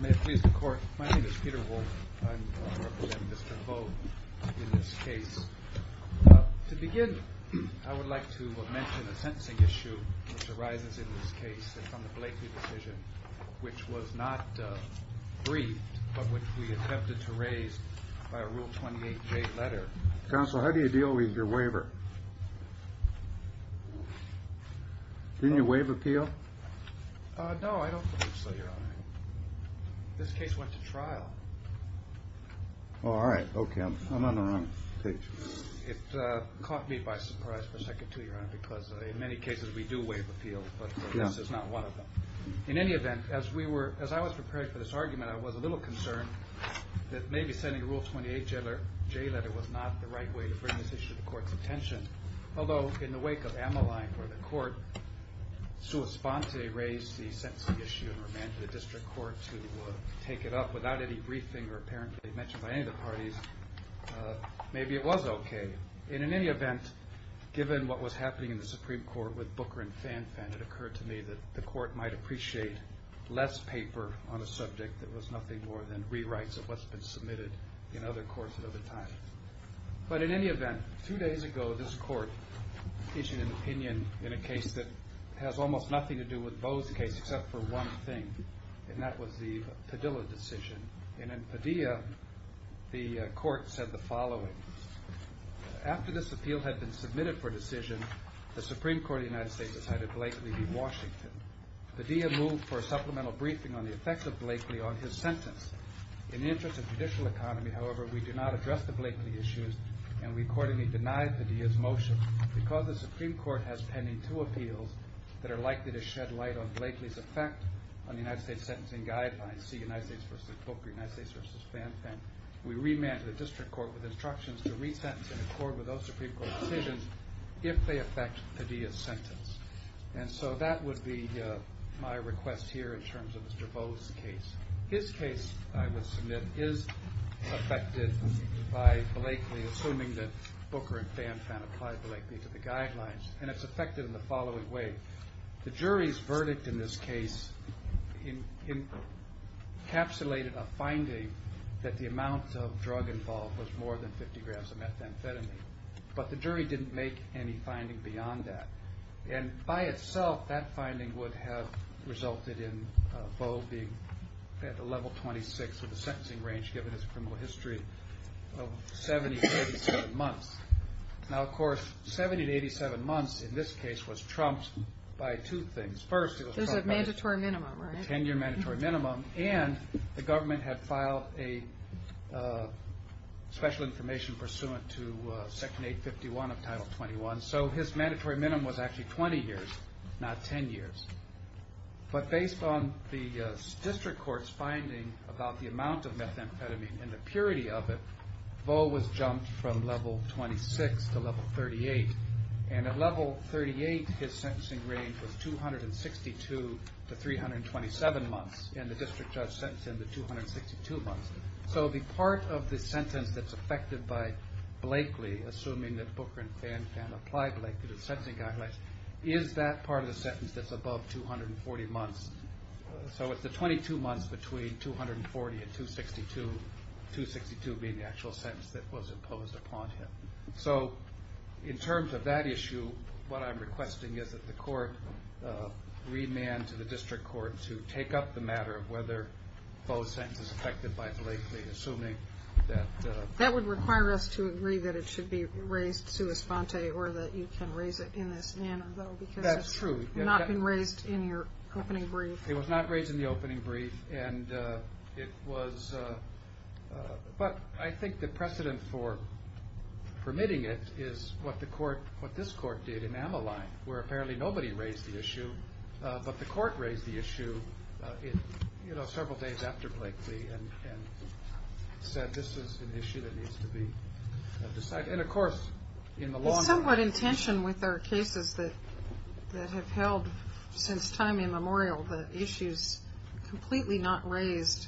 May it please the court. My name is Peter Wolfe. I'm representing Mr. Vo in this case. To begin, I would like to mention a sentencing issue which arises in this case and from the Blakeley decision, which was not briefed, but which we attempted to raise by a Rule 28J letter. Counsel, how do you deal with your waiver? Didn't you waive appeal? No, I don't think so, Your Honor. This case went to trial. Oh, all right. Okay. I'm on the wrong page. It caught me by surprise for a second, too, Your Honor, because in many cases we do waive appeal, but this is not one of them. In any event, as I was preparing for this argument, I was a little concerned that maybe sending a Rule 28J letter was not the right way to bring this issue to the court's attention. Although, in the wake of Ammaline, where the court, sua sponte, raised the sentencing issue and demanded the district court to take it up without any briefing or apparently mentioned by any of the parties, maybe it was okay. In any event, given what was happening in the Supreme Court with Booker and Fanfan, it occurred to me that the court might appreciate less paper on a subject that was nothing more than rewrites of what's been submitted in other courts at other times. But in any event, two days ago, this court issued an opinion in a case that has almost nothing to do with Bo's case except for one thing, and that was the Padilla decision. And in Padilla, the court said the following. After this appeal had been submitted for decision, the Supreme Court of the United States decided Blakely be Washington. Padilla moved for a supplemental briefing on the effects of Blakely on his sentence. In the interest of judicial economy, however, we do not address the Blakely issues, and we accordingly deny Padilla's motion. Because the Supreme Court has pending two appeals that are likely to shed light on Blakely's effect on the United States sentencing guidelines, see United States v. Booker, United States v. Fanfan, we remand the district court with instructions to resentence in accord with those Supreme Court decisions if they affect Padilla's sentence. And so that would be my request here in terms of Mr. Bo's case. His case, I would submit, is affected by Blakely, assuming that Booker and Fanfan applied Blakely to the guidelines, and it's affected in the following way. The jury's verdict in this case encapsulated a finding that the amount of drug involved was more than 50 grams of methamphetamine, but the jury didn't make any finding beyond that. And by itself, that finding would have resulted in Bo being at the level 26 of the sentencing range, given his criminal history of 70 to 87 months. Now, of course, 70 to 87 months in this case was trumped by two things. First, it was trumped by a 10-year mandatory minimum, and the government had filed a special information pursuant to Section 851 of Title 21. So his mandatory minimum was actually 20 years, not 10 years. But based on the district court's finding about the amount of methamphetamine and the purity of it, Bo was jumped from level 26 to level 38. And at level 38, his sentencing range was 262 to 327 months, so the part of the sentence that's affected by Blakely, assuming that Booker and Fan can apply Blakely to the sentencing guidelines, is that part of the sentence that's above 240 months. So it's the 22 months between 240 and 262, 262 being the actual sentence that was imposed upon him. So in terms of that issue, what I'm requesting is that the court remand to the district court to take up the matter of whether Bo's sentence is affected by Blakely, assuming that... That would require us to agree that it should be raised sua sponte, or that you can raise it in this manner, though, because it's not been raised in your opening brief. It was not raised in the opening brief, and it was... But I think the precedent for permitting it is what this court did in Ammaline, where apparently nobody raised the issue, but the court raised the issue several days after Blakely and said this is an issue that needs to be decided. And, of course, in the long run... It's somewhat in tension with our cases that have held since time immemorial that issues completely not raised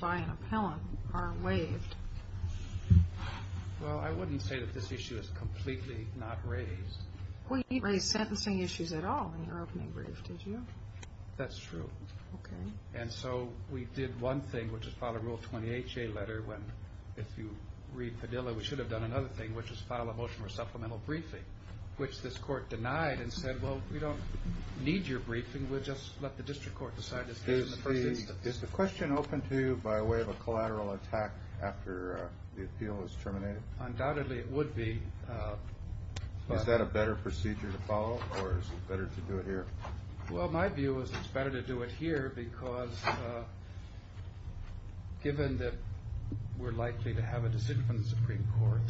by an appellant are waived. Well, I wouldn't say that this issue is completely not raised. Well, you didn't raise sentencing issues at all in your opening brief, did you? That's true. Okay. And so we did one thing, which is file a Rule 20HA letter when, if you read Padilla, we should have done another thing, which is file a motion for supplemental briefing, which this court denied and said, well, we don't need your briefing. We'll just let the district court decide this case in the first instance. Is the question open to you by way of a collateral attack after the appeal is terminated? Undoubtedly it would be. Is that a better procedure to follow, or is it better to do it here? Well, my view is it's better to do it here because, given that we're likely to have a decision from the Supreme Court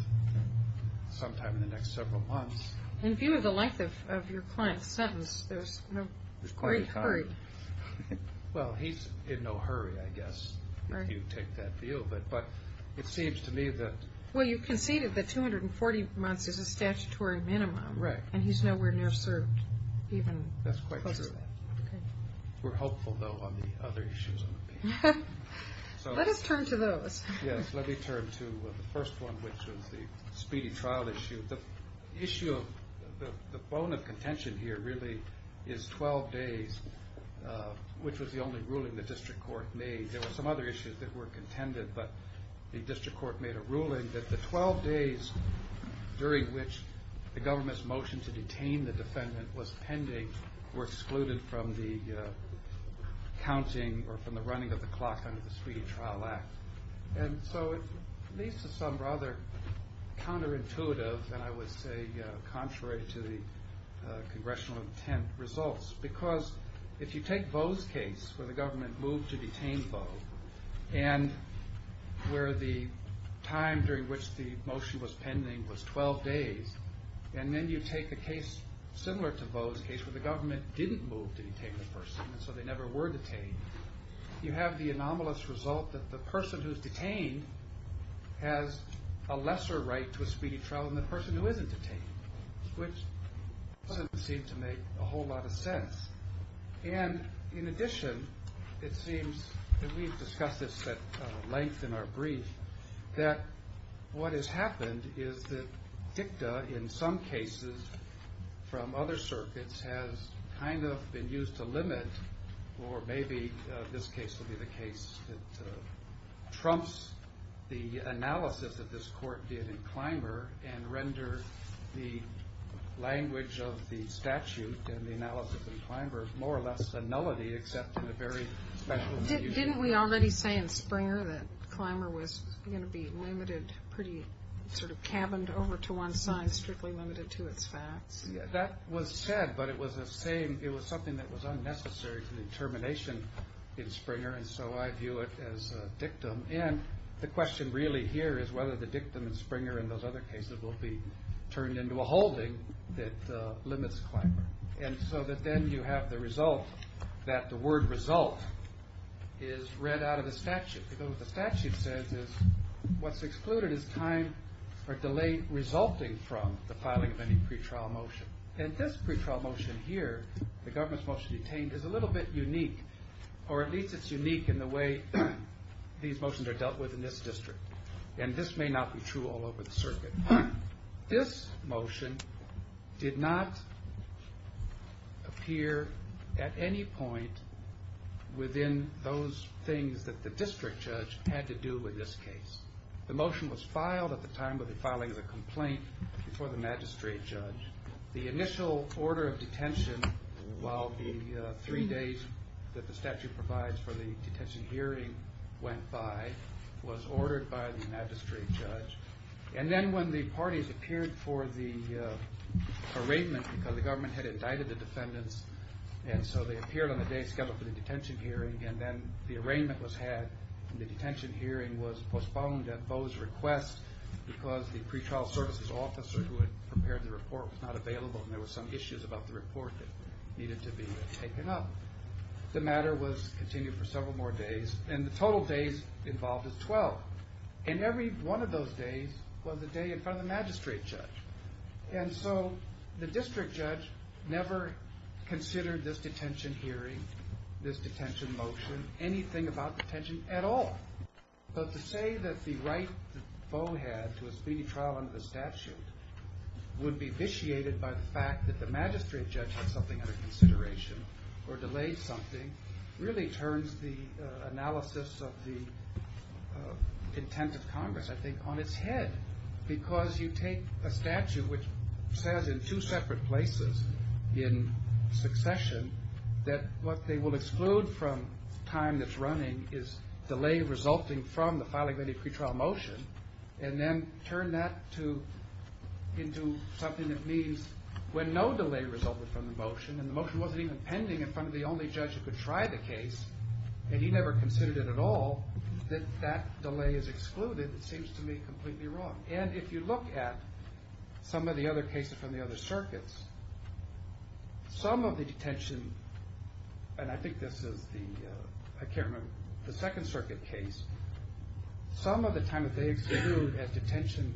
sometime in the next several months. In view of the length of your client's sentence, there's no great hurry. Well, he's in no hurry, I guess, if you take that view. But it seems to me that... Well, you conceded that 240 months is a statutory minimum. Right. And he's nowhere near served even closer to that. That's quite true. We're hopeful, though, on the other issues of the case. Let us turn to those. Yes, let me turn to the first one, which was the speedy trial issue. The issue of the bone of contention here really is 12 days, which was the only ruling the district court made. There were some other issues that were contended, but the district court made a ruling that the 12 days during which the government's motion to detain the defendant was pending were excluded from the counting or from the running of the clock under the Speedy Trial Act. And so it leads to some rather counterintuitive, and I would say contrary to the congressional intent, results. Because if you take Bo's case, where the government moved to detain Bo, and where the time during which the motion was pending was 12 days, and then you take a case similar to Bo's case, where the government didn't move to detain the person, and so they never were detained, you have the anomalous result that the person who's detained has a lesser right to a speedy trial than the person who isn't detained. Which doesn't seem to make a whole lot of sense. And in addition, it seems that we've discussed this at length in our brief, that what has happened is that dicta in some cases from other circuits has kind of been used to limit, or maybe this case will be the case that trumps the analysis that this court did in Clymer and render the language of the statute and the analysis in Clymer more or less a nullity, except in a very special way. Didn't we already say in Springer that Clymer was going to be limited, pretty sort of cabined over to one side, strictly limited to its facts? That was said, but it was something that was unnecessary for the determination in Springer, and so I view it as dictum. And the question really here is whether the dictum in Springer and those other cases will be turned into a holding that limits Clymer. And so that then you have the result that the word result is read out of the statute, because what the statute says is what's excluded is time or delay resulting from the filing of any pretrial motion. And this pretrial motion here, the government's motion to detain, is a little bit unique, or at least it's unique in the way these motions are dealt with in this district. And this may not be true all over the circuit. This motion did not appear at any point within those things that the district judge had to do with this case. The motion was filed at the time of the filing of the complaint before the magistrate judge. The initial order of detention, while the three days that the statute provides for the detention hearing went by, was ordered by the magistrate judge. And then when the parties appeared for the arraignment, because the government had indicted the defendants, and so they appeared on the day scheduled for the detention hearing, and then the arraignment was had and the detention hearing was postponed at Bo's request because the pretrial services officer who had prepared the report was not available and there were some issues about the report that needed to be taken up. The matter was continued for several more days, and the total days involved is 12. And every one of those days was a day in front of the magistrate judge. And so the district judge never considered this detention hearing, this detention motion, anything about detention at all. But to say that the right that Bo had to a speedy trial under the statute would be vitiated by the fact that the magistrate judge had something under consideration or delayed something really turns the analysis of the intent of Congress, I think, on its head. Because you take a statute which says in two separate places in succession that what they will exclude from time that's running is delay resulting from the filing of any pretrial motion, and then turn that into something that means when no delay resulted from the motion, and the motion wasn't even pending in front of the only judge who could try the case, and he never considered it at all, that that delay is excluded seems to me completely wrong. And if you look at some of the other cases from the other circuits, some of the detention, and I think this is the, I can't remember, the second circuit case, some of the time that they exclude as detention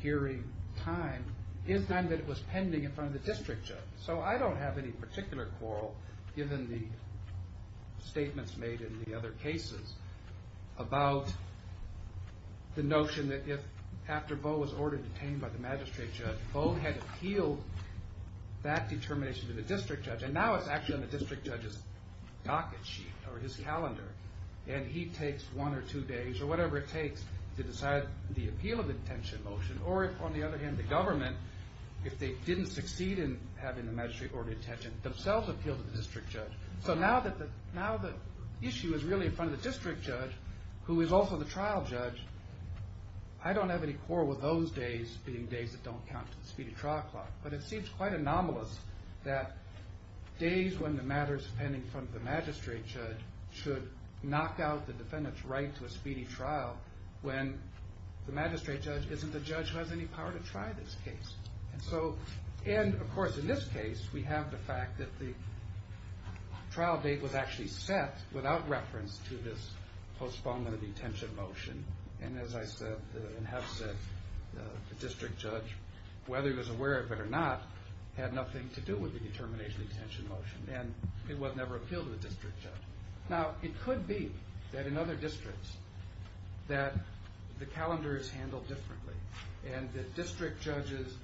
hearing time is time that it was pending in front of the district judge. So I don't have any particular quarrel, given the statements made in the other cases, about the notion that if after Bo was ordered detained by the magistrate judge, Bo had appealed that determination to the district judge, and now it's actually on the district judge's docket sheet or his calendar, and he takes one or two days or whatever it takes to decide the appeal of the detention motion, or if on the other hand the government, if they didn't succeed in having the magistrate order detention, themselves appeal to the district judge. So now the issue is really in front of the district judge, who is also the trial judge. I don't have any quarrel with those days being days that don't count to the speedy trial clock, but it seems quite anomalous that days when the matter is pending in front of the magistrate judge should knock out the defendant's right to a speedy trial when the magistrate judge isn't the judge who has any power to try this case. And of course in this case we have the fact that the trial date was actually set without reference to this postponement of the detention motion, and as I said and have said, the district judge, whether he was aware of it or not, had nothing to do with the determination of the detention motion, and it was never appealed to the district judge. Now it could be that in other districts that the calendar is handled differently, and the district judges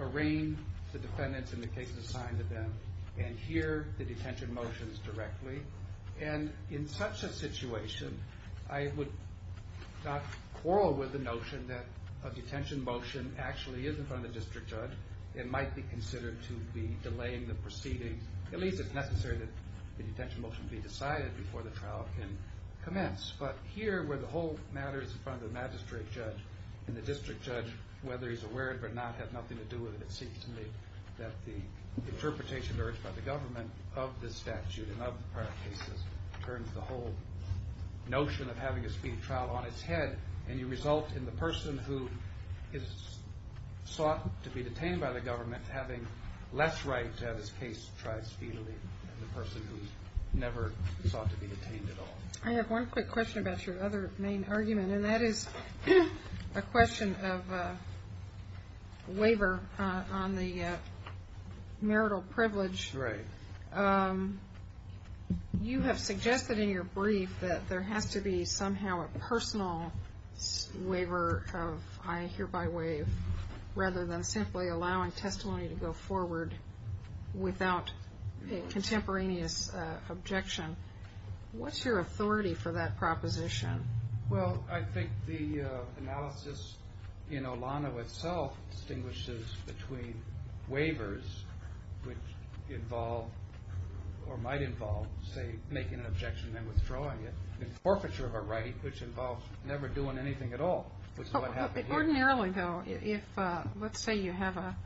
arraign the defendants in the cases assigned to them and hear the detention motions directly, and in such a situation I would not quarrel with the notion that a detention motion actually is in front of the district judge and might be considered to be delaying the proceedings. At least it's necessary that the detention motion be decided before the trial can commence, but here where the whole matter is in front of the magistrate judge and the district judge, whether he's aware of it or not, has nothing to do with it, it seems to me that the interpretation urged by the government of this statute and of the prior cases turns the whole notion of having a speedy trial on its head, and you result in the person who is sought to be detained by the government having less right to have his case tried speedily than the person who's never sought to be detained at all. I have one quick question about your other main argument, and that is a question of waiver on the marital privilege. Right. You have suggested in your brief that there has to be somehow a personal waiver of I hereby waive, rather than simply allowing testimony to go forward without a contemporaneous objection. What's your authority for that proposition? Well, I think the analysis in Olano itself distinguishes between waivers, which involve or might involve, say, making an objection and then withdrawing it, and forfeiture of a right, which involves never doing anything at all, which is what happened here. Ordinarily, though, if let's say you have a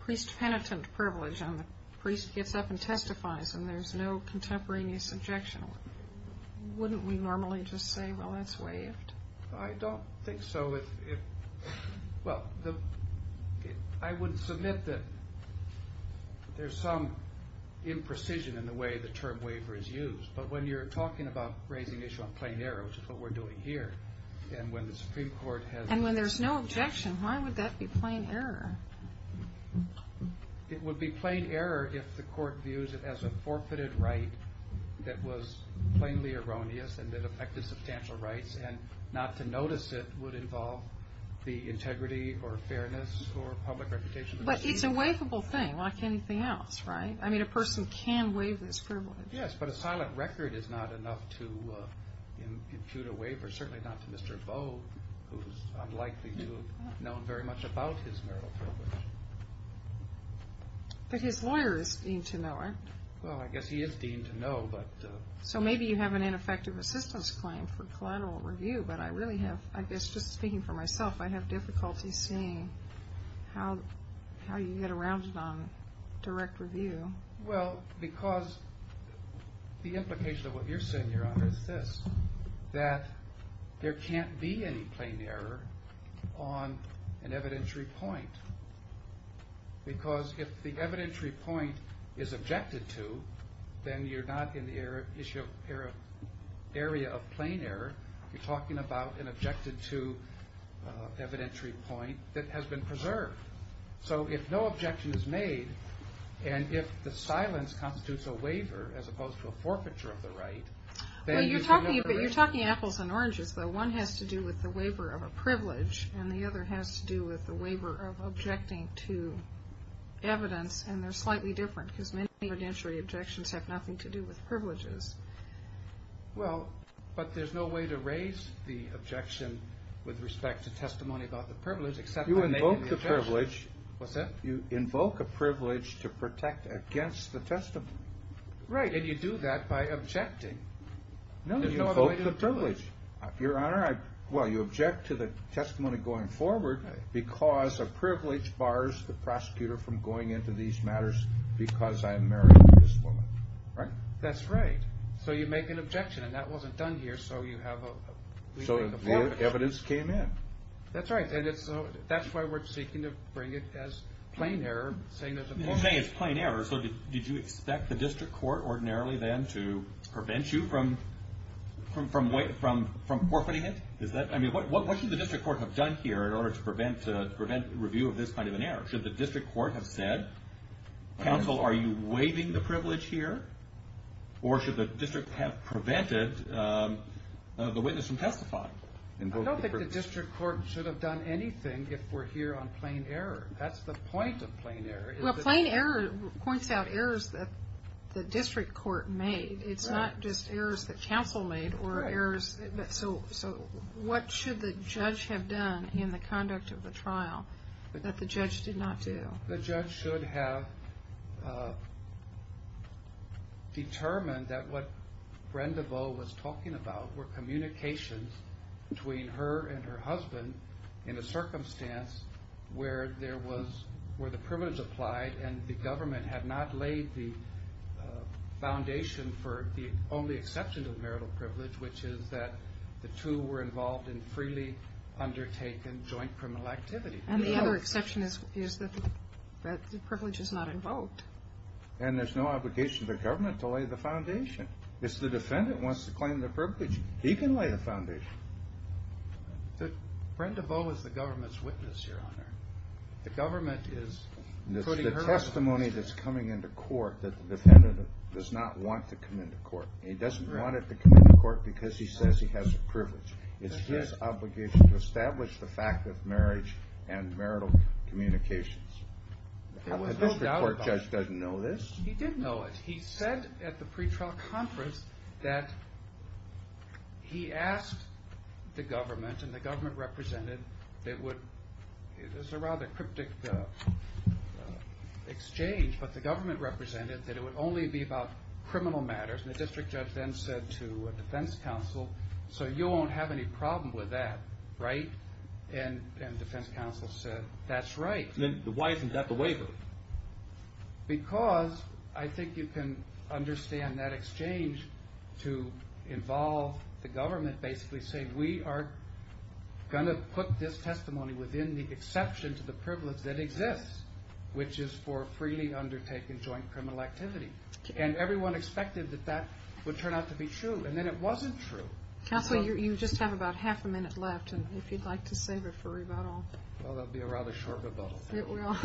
priest-penitent privilege and the priest gets up and testifies and there's no contemporaneous objection, wouldn't we normally just say, well, that's waived? I don't think so. Well, I would submit that there's some imprecision in the way the term waiver is used, but when you're talking about raising the issue on plain error, which is what we're doing here, and when the Supreme Court has— And when there's no objection, why would that be plain error? It would be plain error if the court views it as a forfeited right that was plainly erroneous and that affected substantial rights, and not to notice it would involve the integrity or fairness or public reputation of the priest. But it's a waivable thing like anything else, right? I mean, a person can waive this privilege. Yes, but a silent record is not enough to impute a waiver, certainly not to Mr. Bowe, who's unlikely to have known very much about his marital privilege. But his lawyer is deemed to know it. Well, I guess he is deemed to know, but— So maybe you have an ineffective assistance claim for collateral review, but I really have—I guess just speaking for myself, I have difficulty seeing how you get around it on direct review. Well, because the implication of what you're saying, Your Honor, is this, that there can't be any plain error on an evidentiary point, because if the evidentiary point is objected to, then you're not in the area of plain error. You're talking about an objected-to evidentiary point that has been preserved. So if no objection is made, and if the silence constitutes a waiver as opposed to a forfeiture of the right, then— Well, you're talking apples and oranges, though. One has to do with the waiver of a privilege, and the other has to do with the waiver of objecting to evidence, and they're slightly different, because many evidentiary objections have nothing to do with privileges. Well, but there's no way to raise the objection with respect to testimony about the privilege, except when they make an objection. You invoke the privilege. What's that? You invoke a privilege to protect against the testimony. Right, and you do that by objecting. No, you invoke the privilege. Your Honor, well, you object to the testimony going forward because a privilege bars the prosecutor from going into these matters because I married this woman, right? That's right. So you make an objection, and that wasn't done here, so you have a— So the evidence came in. That's right, and that's why we're seeking to bring it as plain error, saying there's a— You're saying it's plain error, so did you expect the district court ordinarily then to prevent you from forfeiting it? I mean, what should the district court have done here in order to prevent review of this kind of an error? Should the district court have said, counsel, are you waiving the privilege here, or should the district have prevented the witness from testifying? I don't think the district court should have done anything if we're here on plain error. That's the point of plain error. Well, plain error points out errors that the district court made. It's not just errors that counsel made or errors— Right. So what should the judge have done in the conduct of the trial that the judge did not do? The judge should have determined that what Brenda Boe was talking about were communications between her and her husband in a circumstance where there was— where the privilege applied and the government had not laid the foundation for the only exception to the marital privilege, which is that the two were involved in freely undertaken joint criminal activity. And the other exception is that the privilege is not invoked. And there's no obligation to the government to lay the foundation. If the defendant wants to claim the privilege, he can lay the foundation. Brenda Boe is the government's witness, Your Honor. The government is putting her— It's the testimony that's coming into court that the defendant does not want to come into court. He doesn't want to come into court because he says he has the privilege. It's his obligation to establish the fact of marriage and marital communications. The district court judge doesn't know this. He did know it. He said at the pretrial conference that he asked the government, and the government represented that it would—this is a rather cryptic exchange, but the government represented that it would only be about criminal matters. And the district judge then said to a defense counsel, so you won't have any problem with that, right? And defense counsel said, that's right. Then why isn't that the waiver? Because I think you can understand that exchange to involve the government basically saying, we are going to put this testimony within the exception to the privilege that exists, which is for freely undertaken joint criminal activity. And everyone expected that that would turn out to be true. And then it wasn't true. Counsel, you just have about half a minute left, and if you'd like to save it for rebuttal. Well, that would be a rather short rebuttal. It will.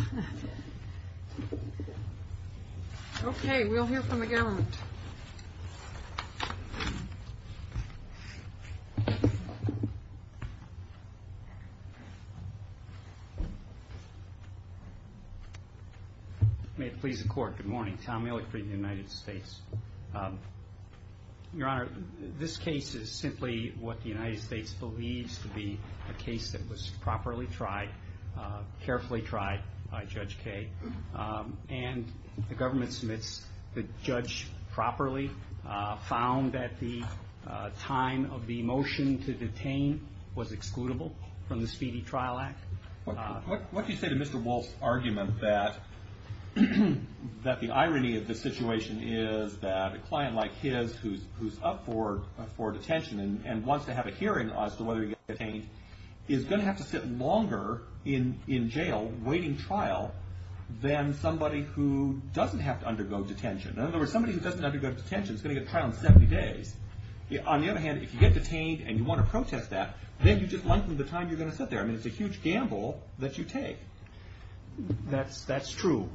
Okay, we'll hear from the government. May it please the court. Good morning. Tom Ehrlich for the United States. Your Honor, this case is simply what the United States believes to be a case that was properly tried, carefully tried by Judge Kaye. And the government submits the judge properly, found that the time of the motion to detain was excludable from the Speedy Trial Act. What do you say to Mr. Wolf's argument that the irony of the situation is that a client like his who's up for detention and wants to have a hearing as to whether he gets detained is going to have to sit longer in jail waiting trial than somebody who doesn't have to undergo detention. In other words, somebody who doesn't have to go to detention is going to get a trial in 70 days. On the other hand, if you get detained and you want to protest that, then you just lengthen the time you're going to sit there. I mean, it's a huge gamble that you take. That's true.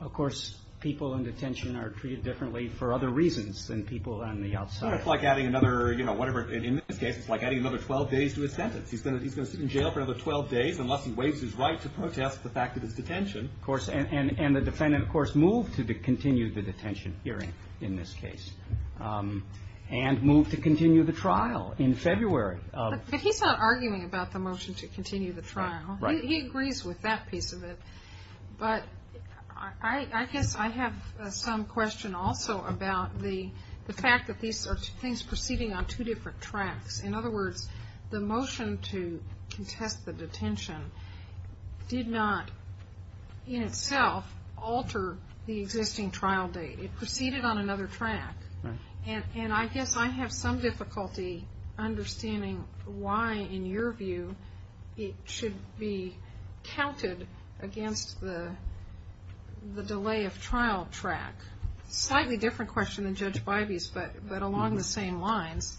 Of course, people in detention are treated differently for other reasons than people on the outside. It's like adding another, you know, whatever. In this case, it's like adding another 12 days to a sentence. He's going to sit in jail for another 12 days unless he waives his right to protest the fact of his detention. Of course, and the defendant, of course, moved to continue the detention hearing in this case and moved to continue the trial in February. But he's not arguing about the motion to continue the trial. He agrees with that piece of it. But I guess I have some question also about the fact that these are things proceeding on two different tracks. In other words, the motion to contest the detention did not in itself alter the existing trial date. It proceeded on another track. And I guess I have some difficulty understanding why, in your view, it should be counted against the delay of trial track. Slightly different question than Judge Bivey's, but along the same lines.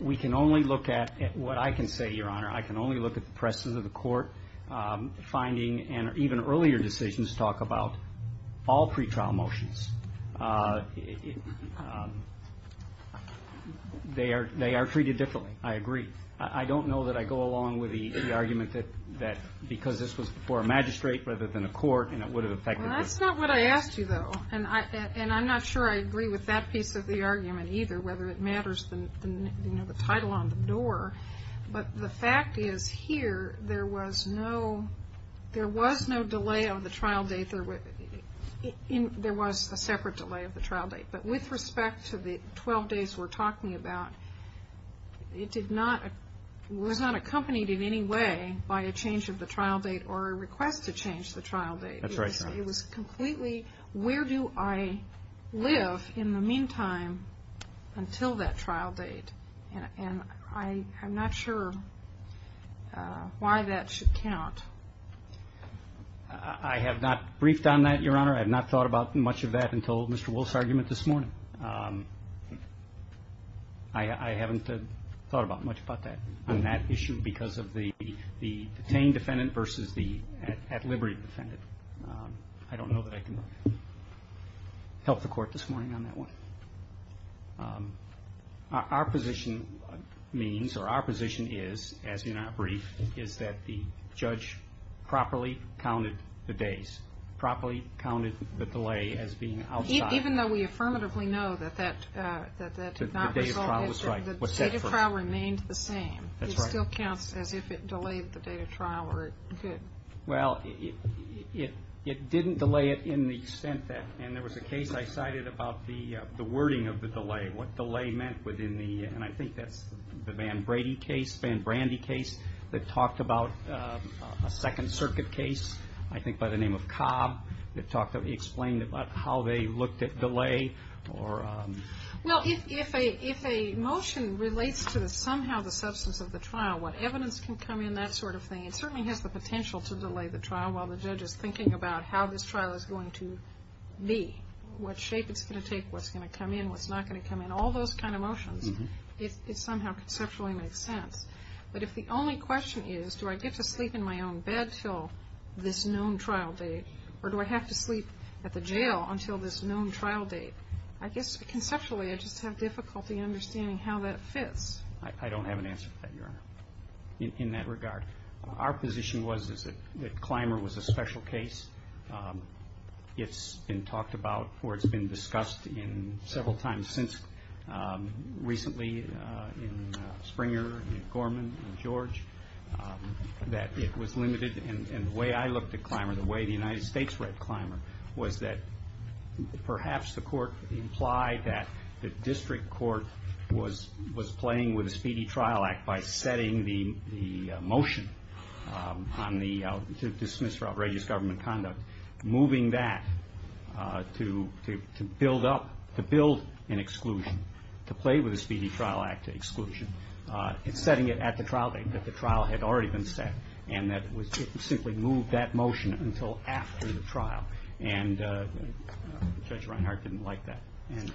We can only look at what I can say, Your Honor. I can only look at the presses of the court finding and even earlier decisions talk about all pretrial motions. They are treated differently. I agree. I don't know that I go along with the argument that because this was before a magistrate rather than a court and it would have affected the court. Well, that's not what I asked you, though. And I'm not sure I agree with that piece of the argument either, whether it matters, you know, the title on the door. But the fact is here there was no delay of the trial date. There was a separate delay of the trial date. But with respect to the 12 days we're talking about, it was not accompanied in any way by a change of the trial date or a request to change the trial date. That's right, Your Honor. It was completely where do I live in the meantime until that trial date? And I'm not sure why that should count. I have not briefed on that, Your Honor. I have not thought about much of that until Mr. Woolf's argument this morning. I haven't thought much about that on that issue because of the detained defendant versus the at liberty defendant. I don't know that I can help the court this morning on that one. Our position means or our position is, as in our brief, is that the judge properly counted the days, properly counted the delay as being outside. Even though we affirmatively know that that did not result in the date of trial remained the same. That's right. It still counts as if it delayed the date of trial or it did. Well, it didn't delay it in the extent that, and there was a case I cited about the wording of the delay, what delay meant within the, and I think that's the Van Brady case, Van Brandy case that talked about a Second Circuit case, I think by the name of Cobb, that talked about, explained about how they looked at delay or. Well, if a motion relates to somehow the substance of the trial, what evidence can come in, that sort of thing. It certainly has the potential to delay the trial while the judge is thinking about how this trial is going to be, what shape it's going to take, what's going to come in, what's not going to come in, all those kind of motions. It somehow conceptually makes sense. But if the only question is, do I get to sleep in my own bed until this known trial date or do I have to sleep at the jail until this known trial date? I guess conceptually I just have difficulty understanding how that fits. I don't have an answer for that, Your Honor, in that regard. Our position was that Clymer was a special case. It's been talked about or it's been discussed several times since recently in Springer and Gorman and George, that it was limited. And the way I looked at Clymer, the way the United States read Clymer, was that perhaps the court implied that the district court was playing with a speedy trial act by setting the motion to dismiss for outrageous government conduct, moving that to build up, to build an exclusion, to play with a speedy trial act exclusion, setting it at the trial date that the trial had already been set and that it simply moved that motion until after the trial. And Judge Reinhart didn't like that.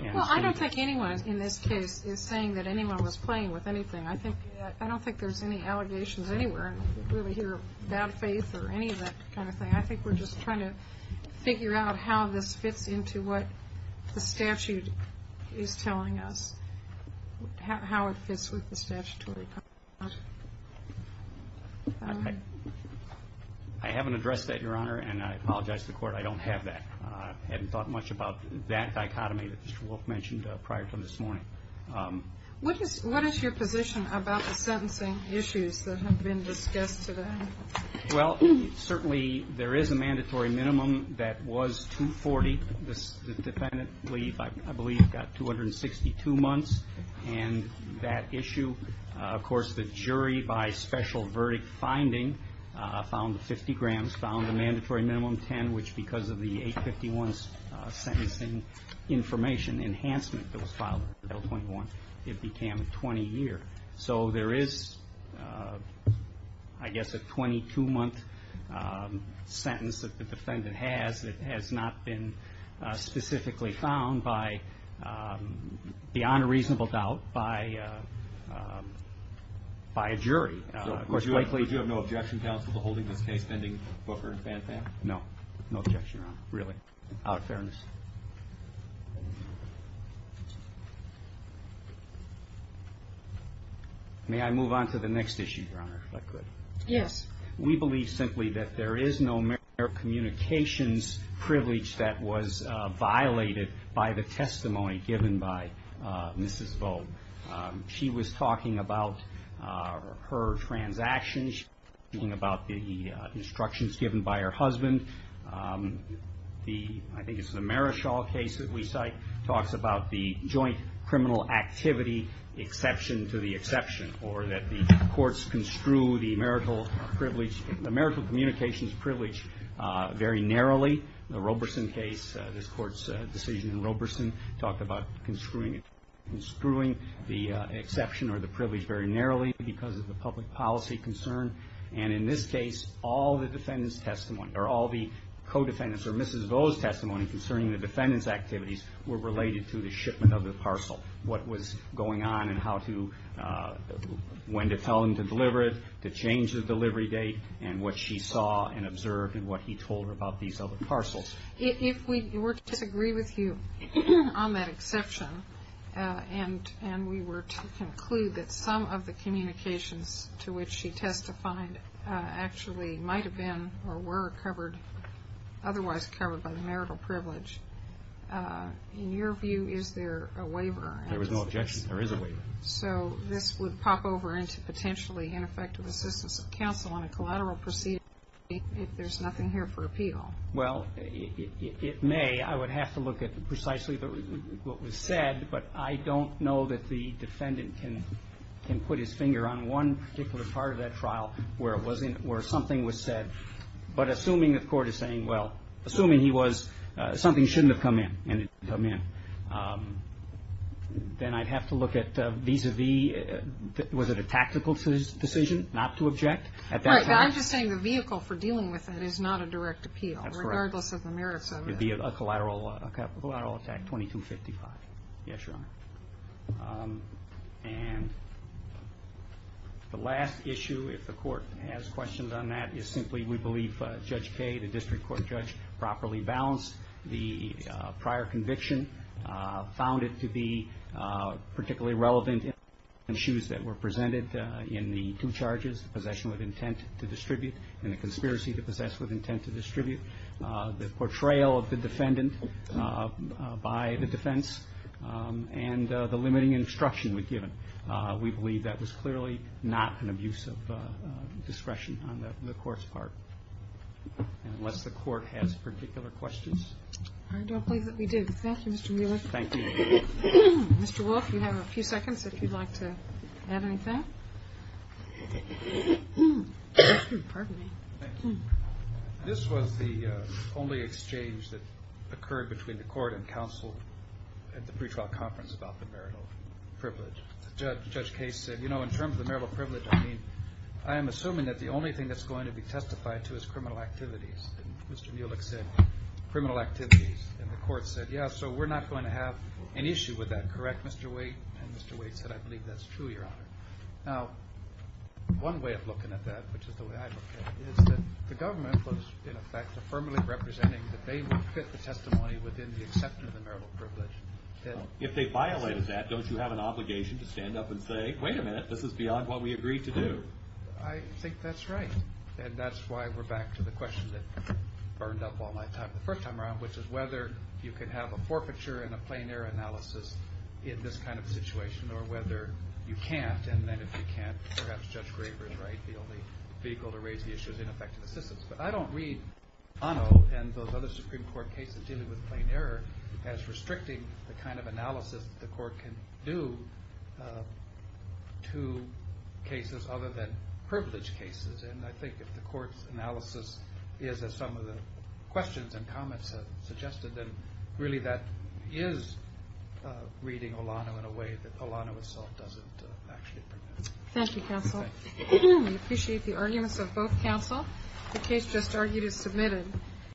Well, I don't think anyone in this case is saying that anyone was playing with anything. I don't think there's any allegations anywhere. I don't really hear of bad faith or any of that kind of thing. I think we're just trying to figure out how this fits into what the statute is telling us, how it fits with the statutory. I haven't addressed that, Your Honor, and I apologize to the court. I don't have that. I haven't thought much about that dichotomy that Mr. Wolfe mentioned prior to this morning. What is your position about the sentencing issues that have been discussed today? Well, certainly there is a mandatory minimum that was 240. The defendant, I believe, got 262 months. And that issue, of course, the jury by special verdict finding found 50 grams, found a mandatory minimum of 10, which because of the 851 sentencing information enhancement that was filed in Article 21, it became a 20-year. So there is, I guess, a 22-month sentence that the defendant has that has not been specifically found beyond a reasonable doubt by a jury. So would you have no objection, counsel, to holding this case pending Booker and Fanfan? No objection, Your Honor. Really. Out of fairness. May I move on to the next issue, Your Honor, if I could? Yes. We believe simply that there is no communications privilege that was violated by the testimony given by Mrs. Vogt. She was talking about her transactions, talking about the instructions given by her husband. I think it's the Marischall case that we cite talks about the joint criminal activity exception to the exception, or that the courts construe the marital privilege, the marital communications privilege very narrowly. The Roberson case, this Court's decision in Roberson talked about construing the exception or the privilege very narrowly because of the public policy concern. And in this case, all the defendant's testimony, or all the co-defendants' or Mrs. Vogt's testimony concerning the defendant's activities were related to the shipment of the parcel. What was going on and how to, when to tell him to deliver it, to change the delivery date, and what she saw and observed and what he told her about these other parcels. If we were to disagree with you on that exception, and we were to conclude that some of the communications to which she testified actually might have been or were covered, otherwise covered by the marital privilege, in your view, is there a waiver? There is no objection. There is a waiver. So this would pop over into potentially ineffective assistance of counsel on a collateral proceeding if there's nothing here for appeal. Well, it may. I would have to look at precisely what was said, but I don't know that the defendant can put his finger on one particular part of that trial where something was said, but assuming the court is saying, well, assuming he was, something shouldn't have come in and it didn't come in, then I'd have to look at vis-a-vis, was it a tactical decision not to object? I'm just saying the vehicle for dealing with that is not a direct appeal, regardless of the merits of it. It would be a collateral attack, 2255. Yes, Your Honor. And the last issue, if the court has questions on that, is simply we believe Judge Kaye, the district court judge, properly balanced the prior conviction, found it to be particularly relevant in the shoes that were presented in the two charges, the possession with intent to distribute and the conspiracy to possess with intent to distribute, the portrayal of the defendant by the defense, and the limiting instruction we've given. We believe that was clearly not an abuse of discretion on the court's part. Unless the court has particular questions. I don't believe that we do. Thank you, Mr. Wheeler. Thank you. Mr. Wolf, you have a few seconds if you'd like to add anything. Pardon me. This was the only exchange that occurred between the court and counsel at the pretrial conference about the marital privilege. Judge Kaye said, you know, in terms of the marital privilege, I mean, I am assuming that the only thing that's going to be testified to is criminal activities. And Mr. Mulek said criminal activities. And the court said, yeah, so we're not going to have an issue with that, correct, Mr. Waite? And Mr. Waite said, I believe that's true, Your Honor. Now, one way of looking at that, which is the way I look at it, is that the government was, in effect, affirmatively representing that they would fit the testimony within the acceptance of the marital privilege. If they violated that, don't you have an obligation to stand up and say, wait a minute, this is beyond what we agreed to do? I think that's right. And that's why we're back to the question that burned up all my time the first time around, which is whether you could have a forfeiture and a plain error analysis in this kind of situation, or whether you can't, and then if you can't, perhaps Judge Graber is right, the only vehicle to raise the issue is ineffective assistance. But I don't read Anno and those other Supreme Court cases dealing with plain error as restricting the kind of analysis the court can do to cases other than privilege cases. And I think if the court's analysis is, as some of the questions and comments have suggested, then really that is reading Olano in a way that Olano itself doesn't actually permit. Thank you, counsel. We appreciate the arguments of both counsel. The case just argued is submitted.